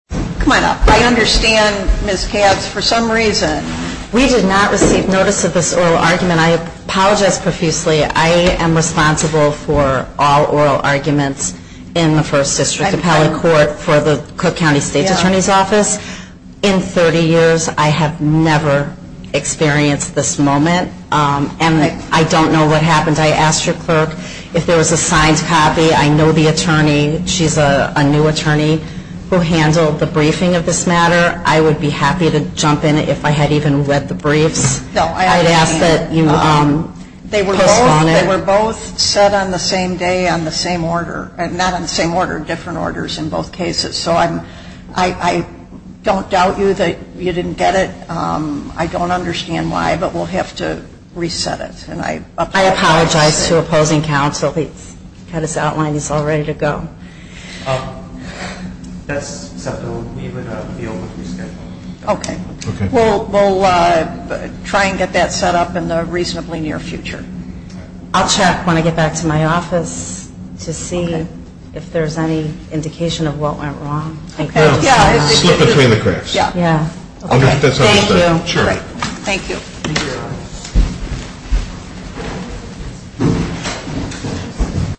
Come on up. I understand, Ms. Katz, for some reason, we did not receive notice of this oral argument. I apologize profusely. I am responsible for all oral arguments in the First District Appellate Court for the Cook County State Attorney's Office. In 30 years, I have never experienced this moment, and I don't know what happened. I asked your clerk if there was a signed copy. I know the attorney. She's a new attorney who handled the briefing of this matter. I would be happy to jump in if I had even read the briefs. No, I understand. I would ask that you postpone it. They were both set on the same day on the same order. Not on the same order, different orders in both cases. So I don't doubt you that you didn't get it. I don't understand why, but we'll have to reset it. I apologize to opposing counsel. He's got his outline. He's all ready to go. That's something we would be able to reschedule. Okay. We'll try and get that set up in the reasonably near future. I'll check when I get back to my office to see if there's any indication of what went wrong. Slip between the cracks. Yeah. Yeah. Thank you. Sure. Thank you.